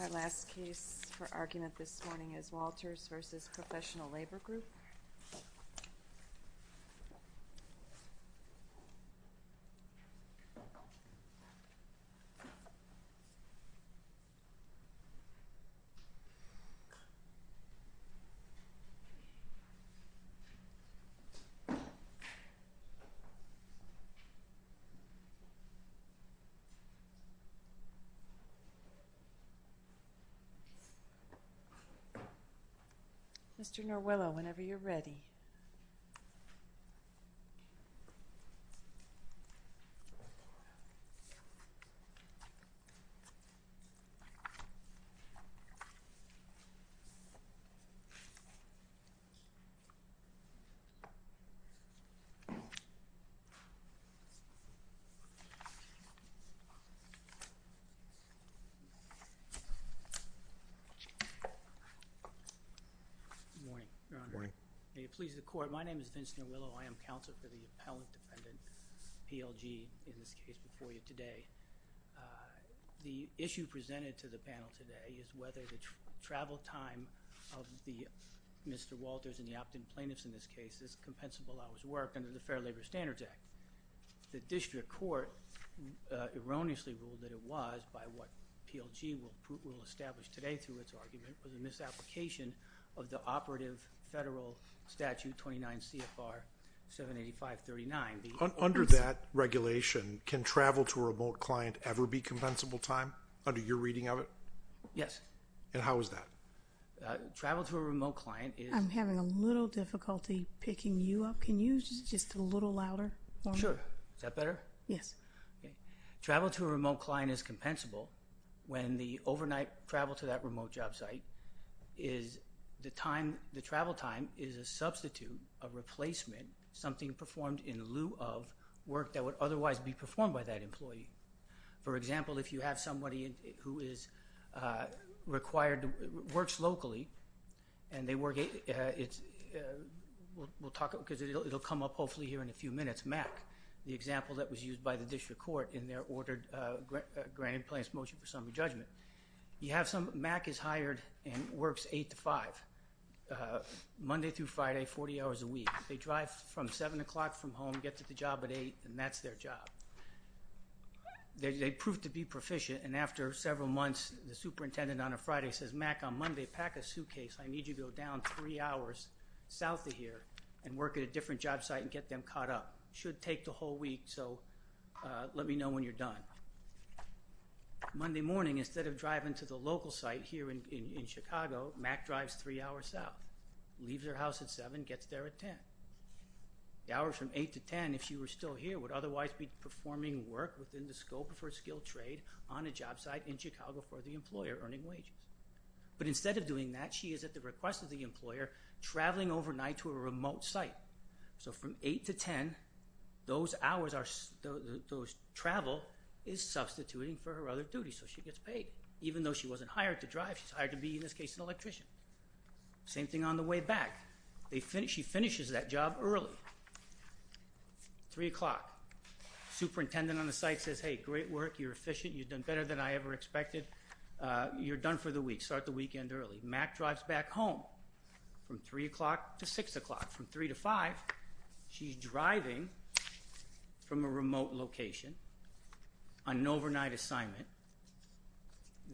Our last case for argument this morning is Walters v. Professional Labor Group. Mr. Noriello, whenever you're ready. Good morning, Your Honor. May it please the Court, my name is Vince Noriello. I am counsel for the appellant defendant, PLG, in this case before you today. The issue presented to the panel today is whether the travel time of Mr. Walters and the opt-in plaintiffs in this case is compensable out of his work under the Fair Labor Standards Act. The district court erroneously ruled that it was, by what PLG will establish today through its argument, was a misapplication of the operative federal statute 29 CFR 78539. Under that regulation, can travel to a remote client ever be compensable time, under your reading of it? Yes. And how is that? Travel to a remote client is... I'm having a little difficulty picking you up. Can you just a little louder for me? Sure. Is that better? Yes. Okay. Travel to a remote client is compensable when the overnight travel to that remote job site is the time, the travel time is a substitute, a replacement, something performed in lieu of work that would otherwise be performed by that employee. For example, if you have somebody who is required, works locally, and they work, we'll talk, because it'll come up hopefully here in a few minutes, MAC, the example that was used by the district court in their ordered granted plaintiff's motion for summary judgment. You have some, MAC is hired and works 8 to 5, Monday through Friday, 40 hours a week. They drive from 7 o'clock from home, get to the job at 8, and that's their job. They prove to be proficient, and after several months, the superintendent on a Friday says, MAC, on Monday, pack a suitcase. I need you to go down three hours south of here and work at a different job site and get them caught up. Should take the whole week, so let me know when you're done. Monday morning, instead of driving to the local site here in Chicago, MAC drives three hours south, leaves her house at 7, gets there at 10. The hours from 8 to 10, if she were still here, would otherwise be performing work within the scope of her skilled trade on a job site in Chicago for the employer earning wages. But instead of doing that, she is at the request of the employer traveling overnight to a remote site. So from 8 to 10, those hours, those travel is substituting for her other duties, so she gets paid. Even though she wasn't hired to drive, she's hired to be, in this case, an electrician. Same thing on the way back. She finishes that job early, 3 o'clock. Superintendent on the site says, hey, great work. You're efficient. You've done better than I ever expected. You're done for the week. Start the weekend early. MAC drives back home from 3 o'clock to 6 o'clock. From 3 to 5, she's driving from a remote location on an overnight assignment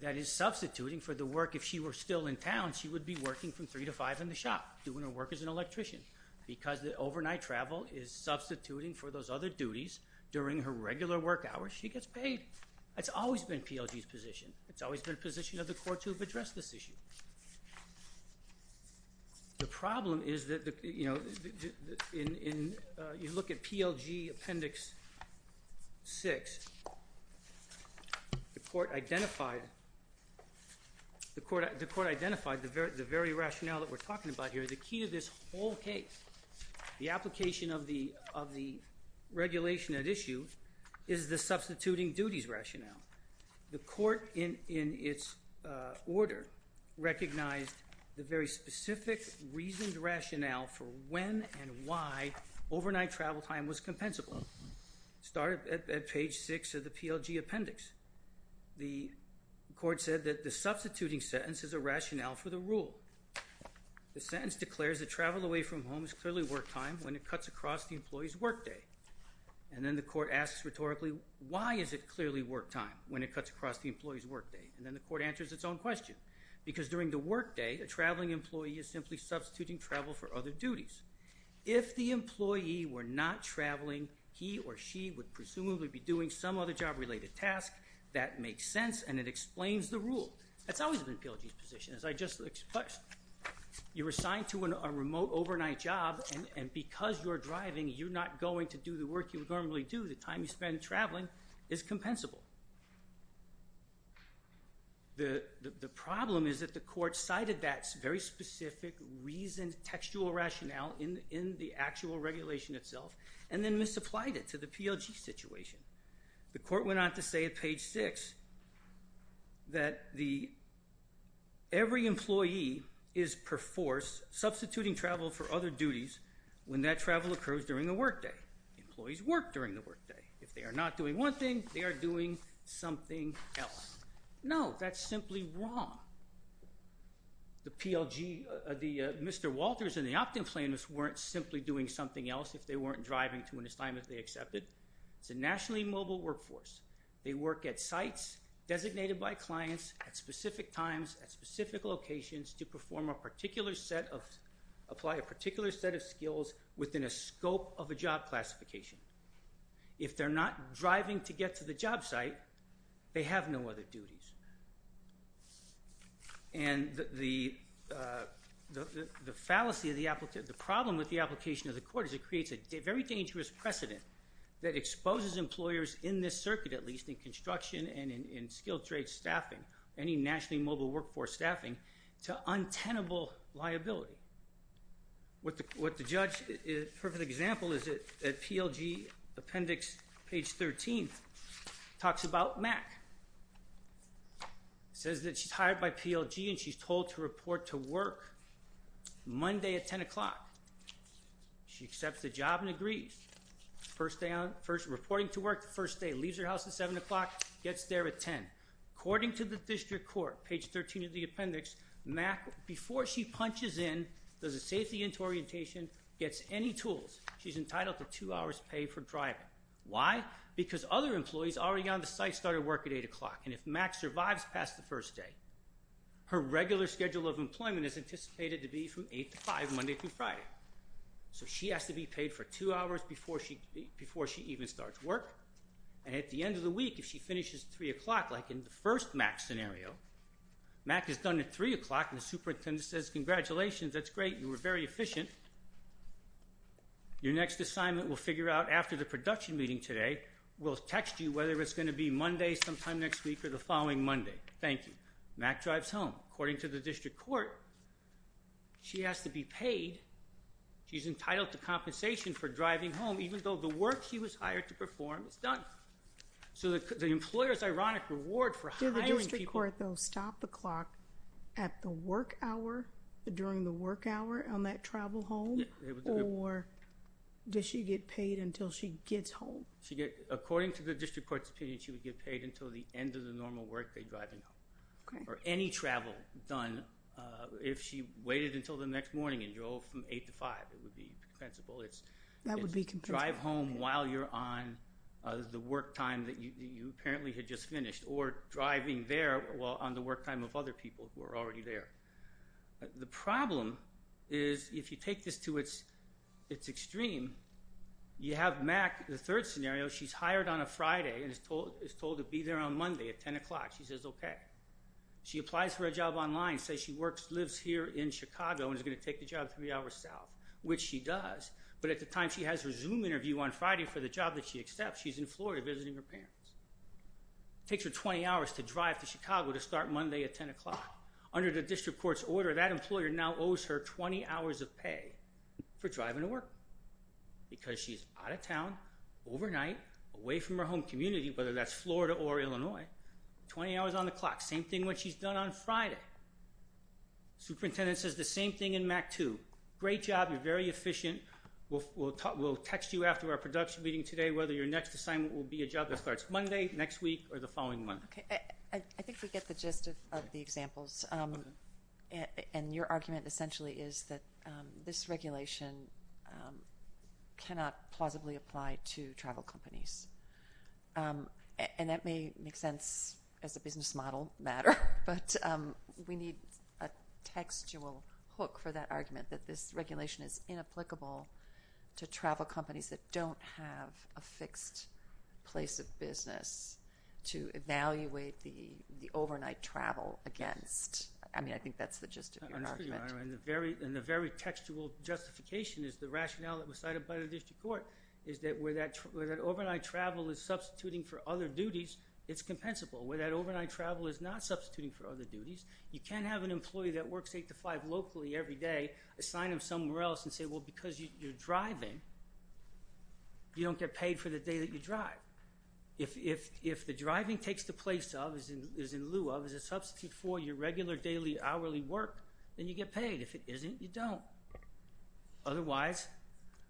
that is substituting for the work. If she were still in town, she would be working from 3 to 5 in the shop, doing her work as an electrician. Because the overnight travel is substituting for those other duties during her regular work hours, she gets paid. That's always been PLG's position. It's always been a position of the court to address this issue. The problem is that you look at PLG Appendix 6, the court identified the very rationale that we're talking about here. The key to this whole case, the application of the regulation at issue, is the substituting duties rationale. The court, in its order, recognized the very specific reasoned rationale for when and why overnight travel time was compensable. It started at page 6 of the PLG Appendix. The court said that the substituting sentence is a rationale for the rule. The sentence declares that travel away from home is clearly work time when it cuts across the employee's work day. And then the court asks rhetorically, why is it clearly work time when it cuts across the employee's work day? And then the court answers its own question. Because during the work day, a traveling employee is simply substituting travel for other duties. If the employee were not traveling, he or she would presumably be doing some other job-related task. That makes sense, and it explains the rule. That's always been PLG's position, as I just expressed. You're assigned to a remote overnight job, and because you're driving, you're not going to do the work you normally do. The time you spend traveling is compensable. The problem is that the court cited that very specific reasoned textual rationale in the actual regulation itself, and then misapplied it to the PLG situation. The court went on to say at page 6 that every employee is, per force, substituting travel for other duties when that travel occurs during the work day. Employees work during the work day. If they are not doing one thing, they are doing something else. No, that's simply wrong. The Mr. Walters and the opt-in planners weren't simply doing something else if they weren't driving to an assignment they accepted. It's a nationally mobile workforce. They work at sites designated by clients at specific times, at specific locations, to perform a particular set of—apply a particular set of skills within a scope of a job classification. If they're not driving to get to the job site, they have no other duties. And the fallacy of the—the problem with the application of the court is it creates a very dangerous precedent that exposes employers in this circuit, at least in construction and in skilled trade staffing, any nationally mobile workforce staffing, to untenable liability. What the judge—a perfect example is at PLG appendix, page 13, talks about Mac. It says that she's hired by PLG and she's told to report to work Monday at 10 o'clock. She accepts the job and agrees. First day on—first reporting to work, the first day, leaves her house at 7 o'clock, gets there at 10. According to the district court, page 13 of the appendix, Mac, before she punches in, does a safety orientation, gets any tools, she's entitled to two hours paid for driving. Why? Because other employees already on the site started work at 8 o'clock, and if Mac survives past the first day, her regular schedule of employment is anticipated to be from 8 to 5, Monday through Friday. So she has to be paid for two hours before she—before she even starts work. And at the end of the week, if she finishes at 3 o'clock, like in the first Mac scenario, Mac is done at 3 o'clock and the superintendent says, congratulations, that's great, you were very efficient. Your next assignment we'll figure out after the production meeting today. We'll text you whether it's going to be Monday sometime next week or the following Monday. Thank you. Mac drives home. According to the district court, she has to be paid. She's entitled to compensation for driving home, even though the work she was hired to perform is done. So the employer's ironic reward for hiring people— Did the district court, though, stop the clock at the work hour, during the work hour on that travel home? Or does she get paid until she gets home? According to the district court's opinion, she would get paid until the end of the normal work day driving home. Okay. Or any travel done, if she waited until the next morning and drove from 8 to 5, it would be compensable. That would be compensable. It's drive home while you're on the work time that you apparently had just finished, or driving there while on the work time of other people who are already there. The problem is, if you take this to its extreme, you have Mac, the third scenario, she's hired on a Friday and is told to be there on Monday at 10 o'clock. She says okay. She applies for a job online, says she lives here in Chicago and is going to take the job three hours south, which she does. But at the time she has her Zoom interview on Friday for the job that she accepts, she's in Florida visiting her parents. It takes her 20 hours to drive to Chicago to start Monday at 10 o'clock. Under the district court's order, that employer now owes her 20 hours of pay for driving to work because she's out of town overnight, away from her home community, whether that's Florida or Illinois, 20 hours on the clock. Same thing when she's done on Friday. Superintendent says the same thing in Mac too. Great job. You're very efficient. We'll text you after our production meeting today whether your next assignment will be a job that starts Monday, next week, or the following Monday. I think we get the gist of the examples. And your argument essentially is that this regulation cannot plausibly apply to travel companies. And that may make sense as a business model matter, but we need a textual hook for that argument, that this regulation is inapplicable to travel companies that don't have a fixed place of business to evaluate the overnight travel against. I mean, I think that's the gist of your argument. I'm sure you are. And the very textual justification is the rationale that was cited by the district court, is that where that overnight travel is substituting for other duties, it's compensable. Where that overnight travel is not substituting for other duties, you can't have an employee that works 8 to 5 locally every day assign them somewhere else and say, well, because you're driving, you don't get paid for the day that you drive. If the driving takes the place of, is in lieu of, is a substitute for your regular daily, hourly work, then you get paid. If it isn't, you don't. Otherwise,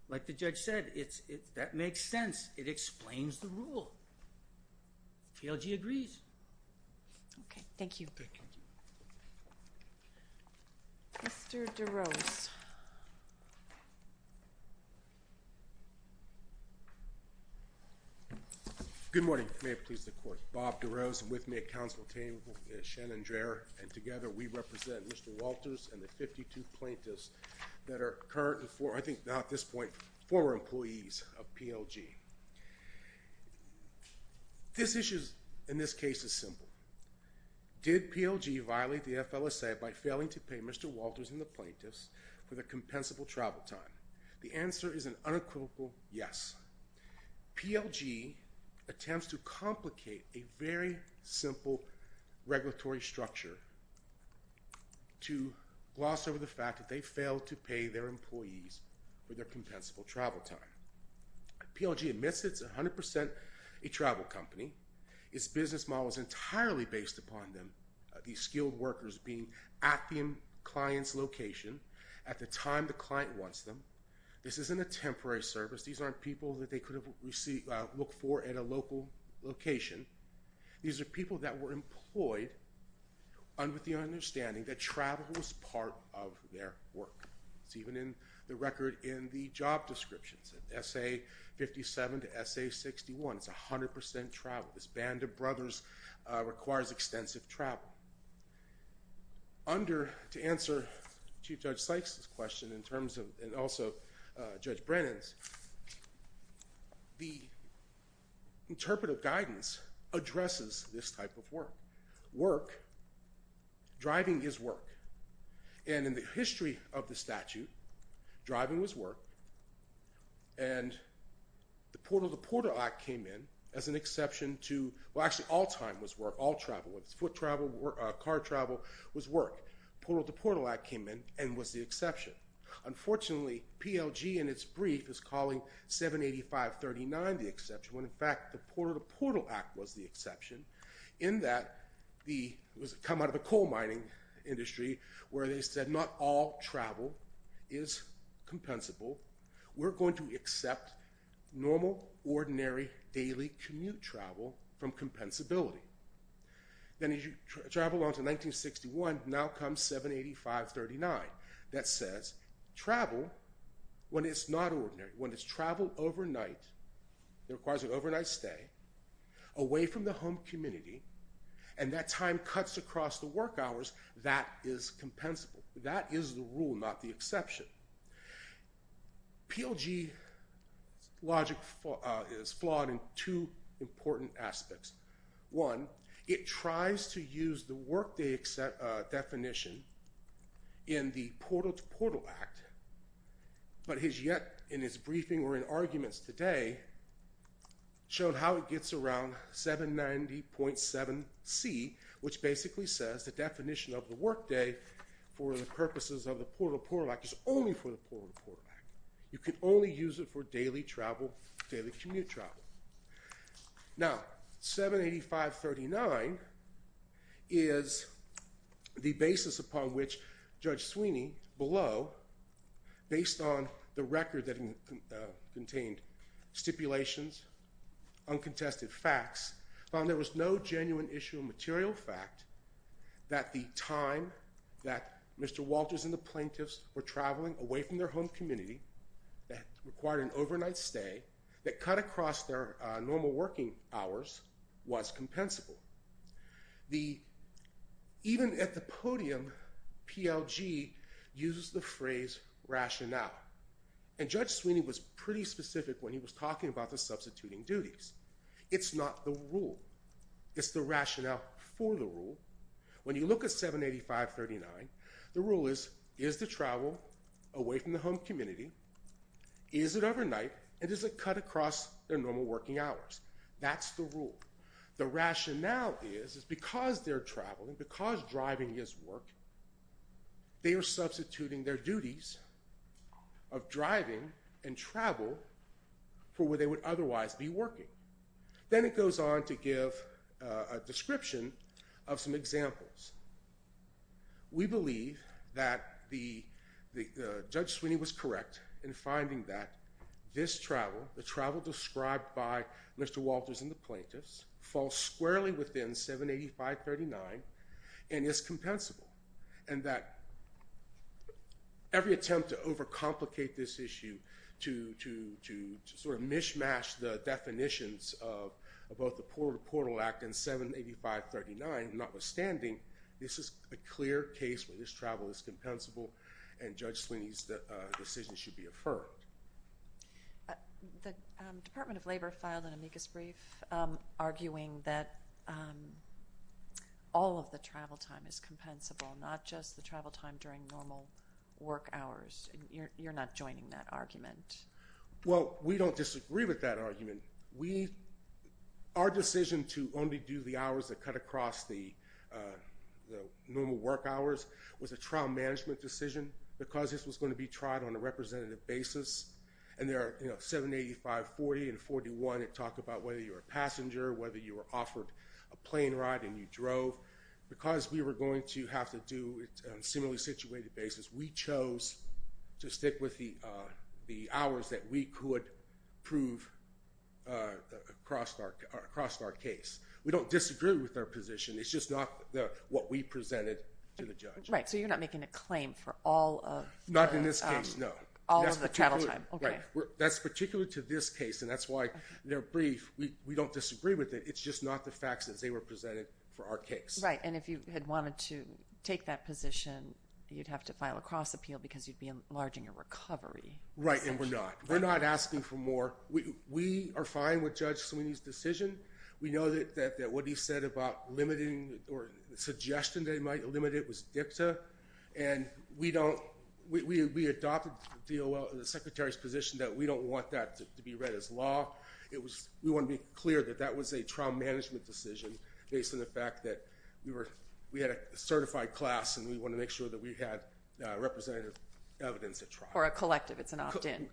like the judge said, that makes sense. It explains the rule. TLG agrees. Okay, thank you. Thank you. Mr. DeRose. Good morning. May it please the court. Bob DeRose, with me at counsel table, Shannon Dreher, and together we represent Mr. Walters and the 52 plaintiffs that are currently, I think now at this point, former employees of PLG. This issue in this case is simple. Did PLG violate the FLSA by failing to pay Mr. Walters and the plaintiffs for their compensable travel time? The answer is an unequivocal yes. PLG attempts to complicate a very simple regulatory structure to gloss over the fact that they failed to pay their employees for their compensable travel time. PLG admits it's 100% a travel company. Its business model is entirely based upon them, these skilled workers being at the client's location at the time the client wants them. This isn't a temporary service. These aren't people that they could have looked for at a local location. These are people that were employed with the understanding that travel was part of their work. It's even in the record in the job descriptions, SA57 to SA61. It's 100% travel. This band of brothers requires extensive travel. Under, to answer Chief Judge Sykes' question in terms of, and also Judge Brennan's, the interpretive guidance addresses this type of work. Work, driving is work. In the history of the statute, driving was work. The Portal to Portal Act came in as an exception to, well actually all time was work, all travel. Foot travel, car travel was work. Portal to Portal Act came in and was the exception. Unfortunately, PLG in its brief is calling 785.39 the exception when in fact the Portal to Portal Act was the exception in that the, it was come out of the coal mining industry where they said not all travel is compensable. We're going to accept normal, ordinary, daily commute travel from compensability. Then as you travel on to 1961, now comes 785.39 that says travel when it's not ordinary, when it's traveled overnight, it requires an overnight stay, away from the home community, and that time cuts across the work hours, that is compensable. That is the rule, not the exception. PLG logic is flawed in two important aspects. One, it tries to use the work day definition in the Portal to Portal Act, but has yet, in his briefing or in arguments today, showed how it gets around 790.7c, which basically says the definition of the work day for the purposes of the Portal to Portal Act is only for the Portal to Portal Act. You can only use it for daily travel, daily commute travel. Now, 785.39 is the basis upon which Judge Sweeney, below, based on the record that contained stipulations, uncontested facts, found there was no genuine issue of material fact that the time that Mr. Walters and the plaintiffs were traveling away from their home community, that required an overnight stay, that cut across their normal working hours, was compensable. Even at the podium, PLG uses the phrase rationale, and Judge Sweeney was pretty specific when he was talking about the substituting duties. It's not the rule. It's the rationale for the rule. When you look at 785.39, the rule is, is the travel away from the home community, is it overnight, and does it cut across their normal working hours? That's the rule. The rationale is, is because they're traveling, because driving is work, they are substituting their duties of driving and travel for where they would otherwise be working. Then it goes on to give a description of some examples. We believe that Judge Sweeney was correct in finding that this travel, the travel described by Mr. Walters and the plaintiffs, falls squarely within 785.39, and is compensable, and that every attempt to overcomplicate this issue, to sort of mishmash the definitions of both the Porter Portal Act and 785.39, notwithstanding, this is a clear case where this travel is compensable, and Judge Sweeney's decision should be affirmed. The Department of Labor filed an amicus brief arguing that all of the travel time is compensable, not just the travel time during normal work hours, and you're not joining that argument. Well, we don't disagree with that argument. Our decision to only do the hours that cut across the normal work hours was a trial management decision because this was going to be tried on a representative basis, and there are 785.40 and 785.41 that talk about whether you're a passenger, whether you were offered a plane ride and you drove. Because we were going to have to do it on a similarly situated basis, we chose to stick with the hours that we could prove across our case. We don't disagree with their position. It's just not what we presented to the judge. Right, so you're not making a claim for all of the travel time. That's particular to this case, and that's why their brief, we don't disagree with it. It's just not the facts as they were presented for our case. Right, and if you had wanted to take that position, you'd have to file a cross appeal because you'd be enlarging your recovery. Right, and we're not. We're not asking for more. We are fine with Judge Sweeney's decision. We know that what he said about limiting or suggestion they might limit it was dicta, and we adopted the Secretary's position that we don't want that to be read as law. We want to be clear that that was a trial management decision based on the fact that we had a certified class, and we want to make sure that we had representative evidence at trial. Or a collective. It's an opt-in.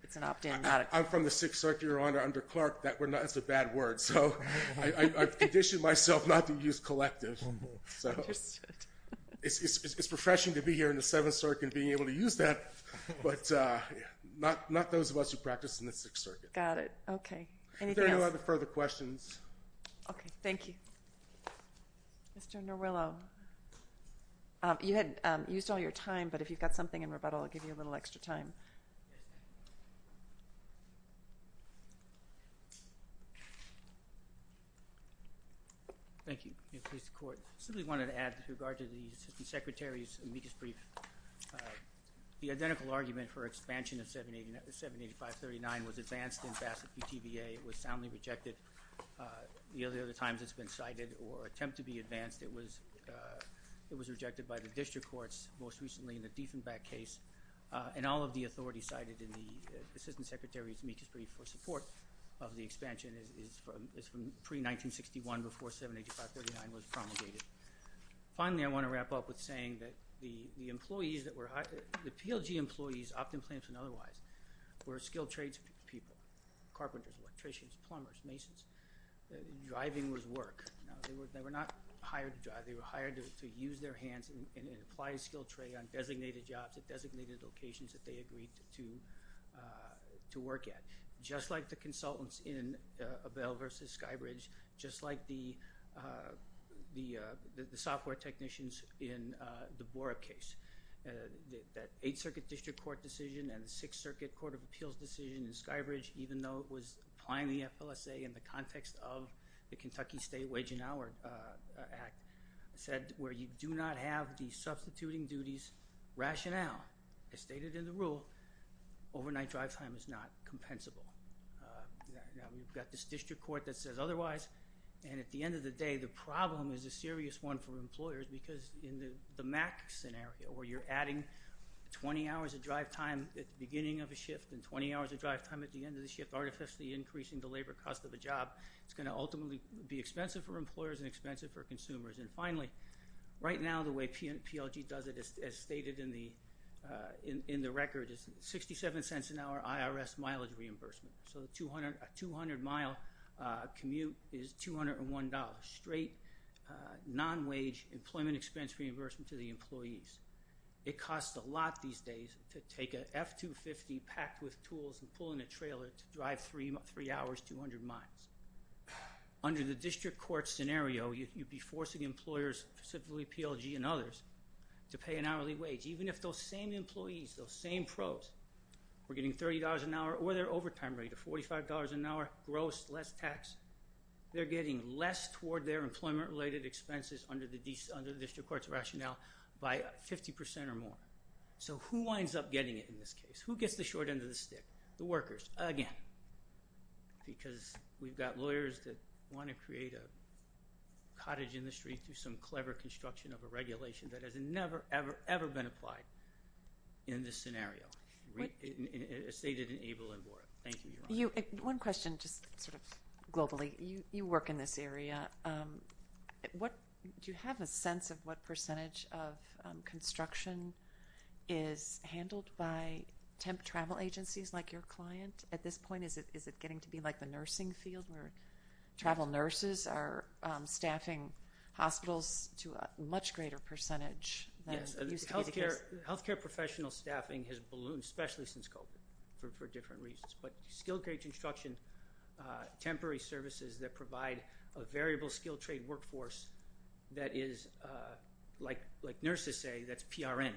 I'm from the Sixth Circuit, Your Honor, under Clark. That's a bad word, so I've conditioned myself not to use collective. It's refreshing to be here in the Seventh Circuit and being able to use that, but not those of us who practice in the Sixth Circuit. Got it. Okay. Anything else? If there are no other further questions. Okay. Thank you. Mr. Noriello, you had used all your time, but if you've got something in rebuttal, I'll give you a little extra time. Thank you. I simply wanted to add with regard to the Assistant Secretary's amicus brief, the identical argument for expansion of 78539 was advanced in Bassett v. TBA. It was soundly rejected. The other times it's been cited or attempted to be advanced, it was rejected by the District Courts, most recently in the Diefenbach case. And all of the authority cited in the Assistant Secretary's amicus brief for support of the expansion is from pre-1961, before 78539 was promulgated. Finally, I want to wrap up with saying that the employees that were hired, the PLG employees, opt-in plans and otherwise, were skilled tradespeople, carpenters, electricians, plumbers, masons. Driving was work. They were not hired to drive. They were hired to use their hands and apply a skilled trade on designated jobs at designated locations that they agreed to work at. Just like the consultants in Abell v. Skybridge, just like the software technicians in the Bora case. That Eighth Circuit District Court decision and the Sixth Circuit Court of Appeals decision in Skybridge, even though it was applying the FLSA in the context of the Kentucky State Wage and Hour Act, said where you do not have the substituting duties rationale, as stated in the rule, overnight drive time is not compensable. We've got this district court that says otherwise, and at the end of the day, the problem is a serious one for employers because in the MAC scenario, where you're adding 20 hours of drive time at the beginning of a shift and 20 hours of drive time at the end of the shift, artificially increasing the labor cost of a job, it's going to ultimately be expensive for employers and expensive for consumers. And finally, right now, the way PLG does it, as stated in the record, is 67 cents an hour IRS mileage reimbursement. So a 200-mile commute is $201, straight non-wage employment expense reimbursement to the employees. It costs a lot these days to take an F-250 packed with tools and pull in a trailer to drive three hours, 200 miles. Under the district court scenario, you'd be forcing employers, specifically PLG and others, to pay an hourly wage, even if those same employees, those same pros, were getting $30 an hour, or their overtime rate of $45 an hour, gross, less tax. They're getting less toward their employment-related expenses under the district court's rationale by 50% or more. So who winds up getting it in this case? Who gets the short end of the stick? The workers, again, because we've got lawyers that want to create a cottage in the street through some clever construction of a regulation that has never, ever, ever been applied in this scenario, as stated in Able and Board. Thank you, Your Honor. One question, just sort of globally. You work in this area. Do you have a sense of what percentage of construction is handled by temp travel agencies like your client at this point? Is it getting to be like the nursing field where travel nurses are staffing hospitals to a much greater percentage than it used to be? Yes, health care professional staffing has ballooned, especially since COVID, for different reasons. But skilled grade construction, temporary services that provide a variable skilled trade workforce that is, like nurses say, that's PRN,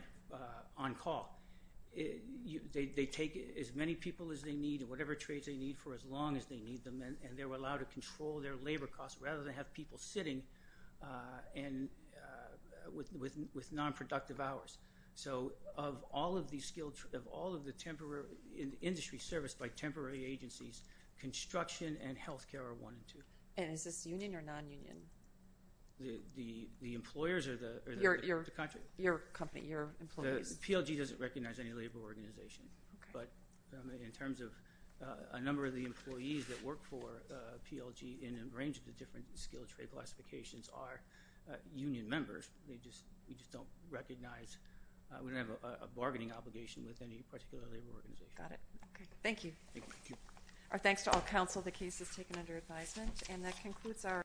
on call. They take as many people as they need or whatever trades they need for as long as they need them, and they're allowed to control their labor costs rather than have people sitting with non-productive hours. So of all of the industry serviced by temporary agencies, construction and health care are one and two. And is this union or non-union? The employers or the country? Your company, your employees. The PLG doesn't recognize any labor organization. But in terms of a number of the employees that work for PLG in a range of the different skilled trade classifications are union members. We just don't recognize. We don't have a bargaining obligation with any particular labor organization. Got it. Okay. Thank you. Thank you. Our thanks to all counsel. The case is taken under advisement.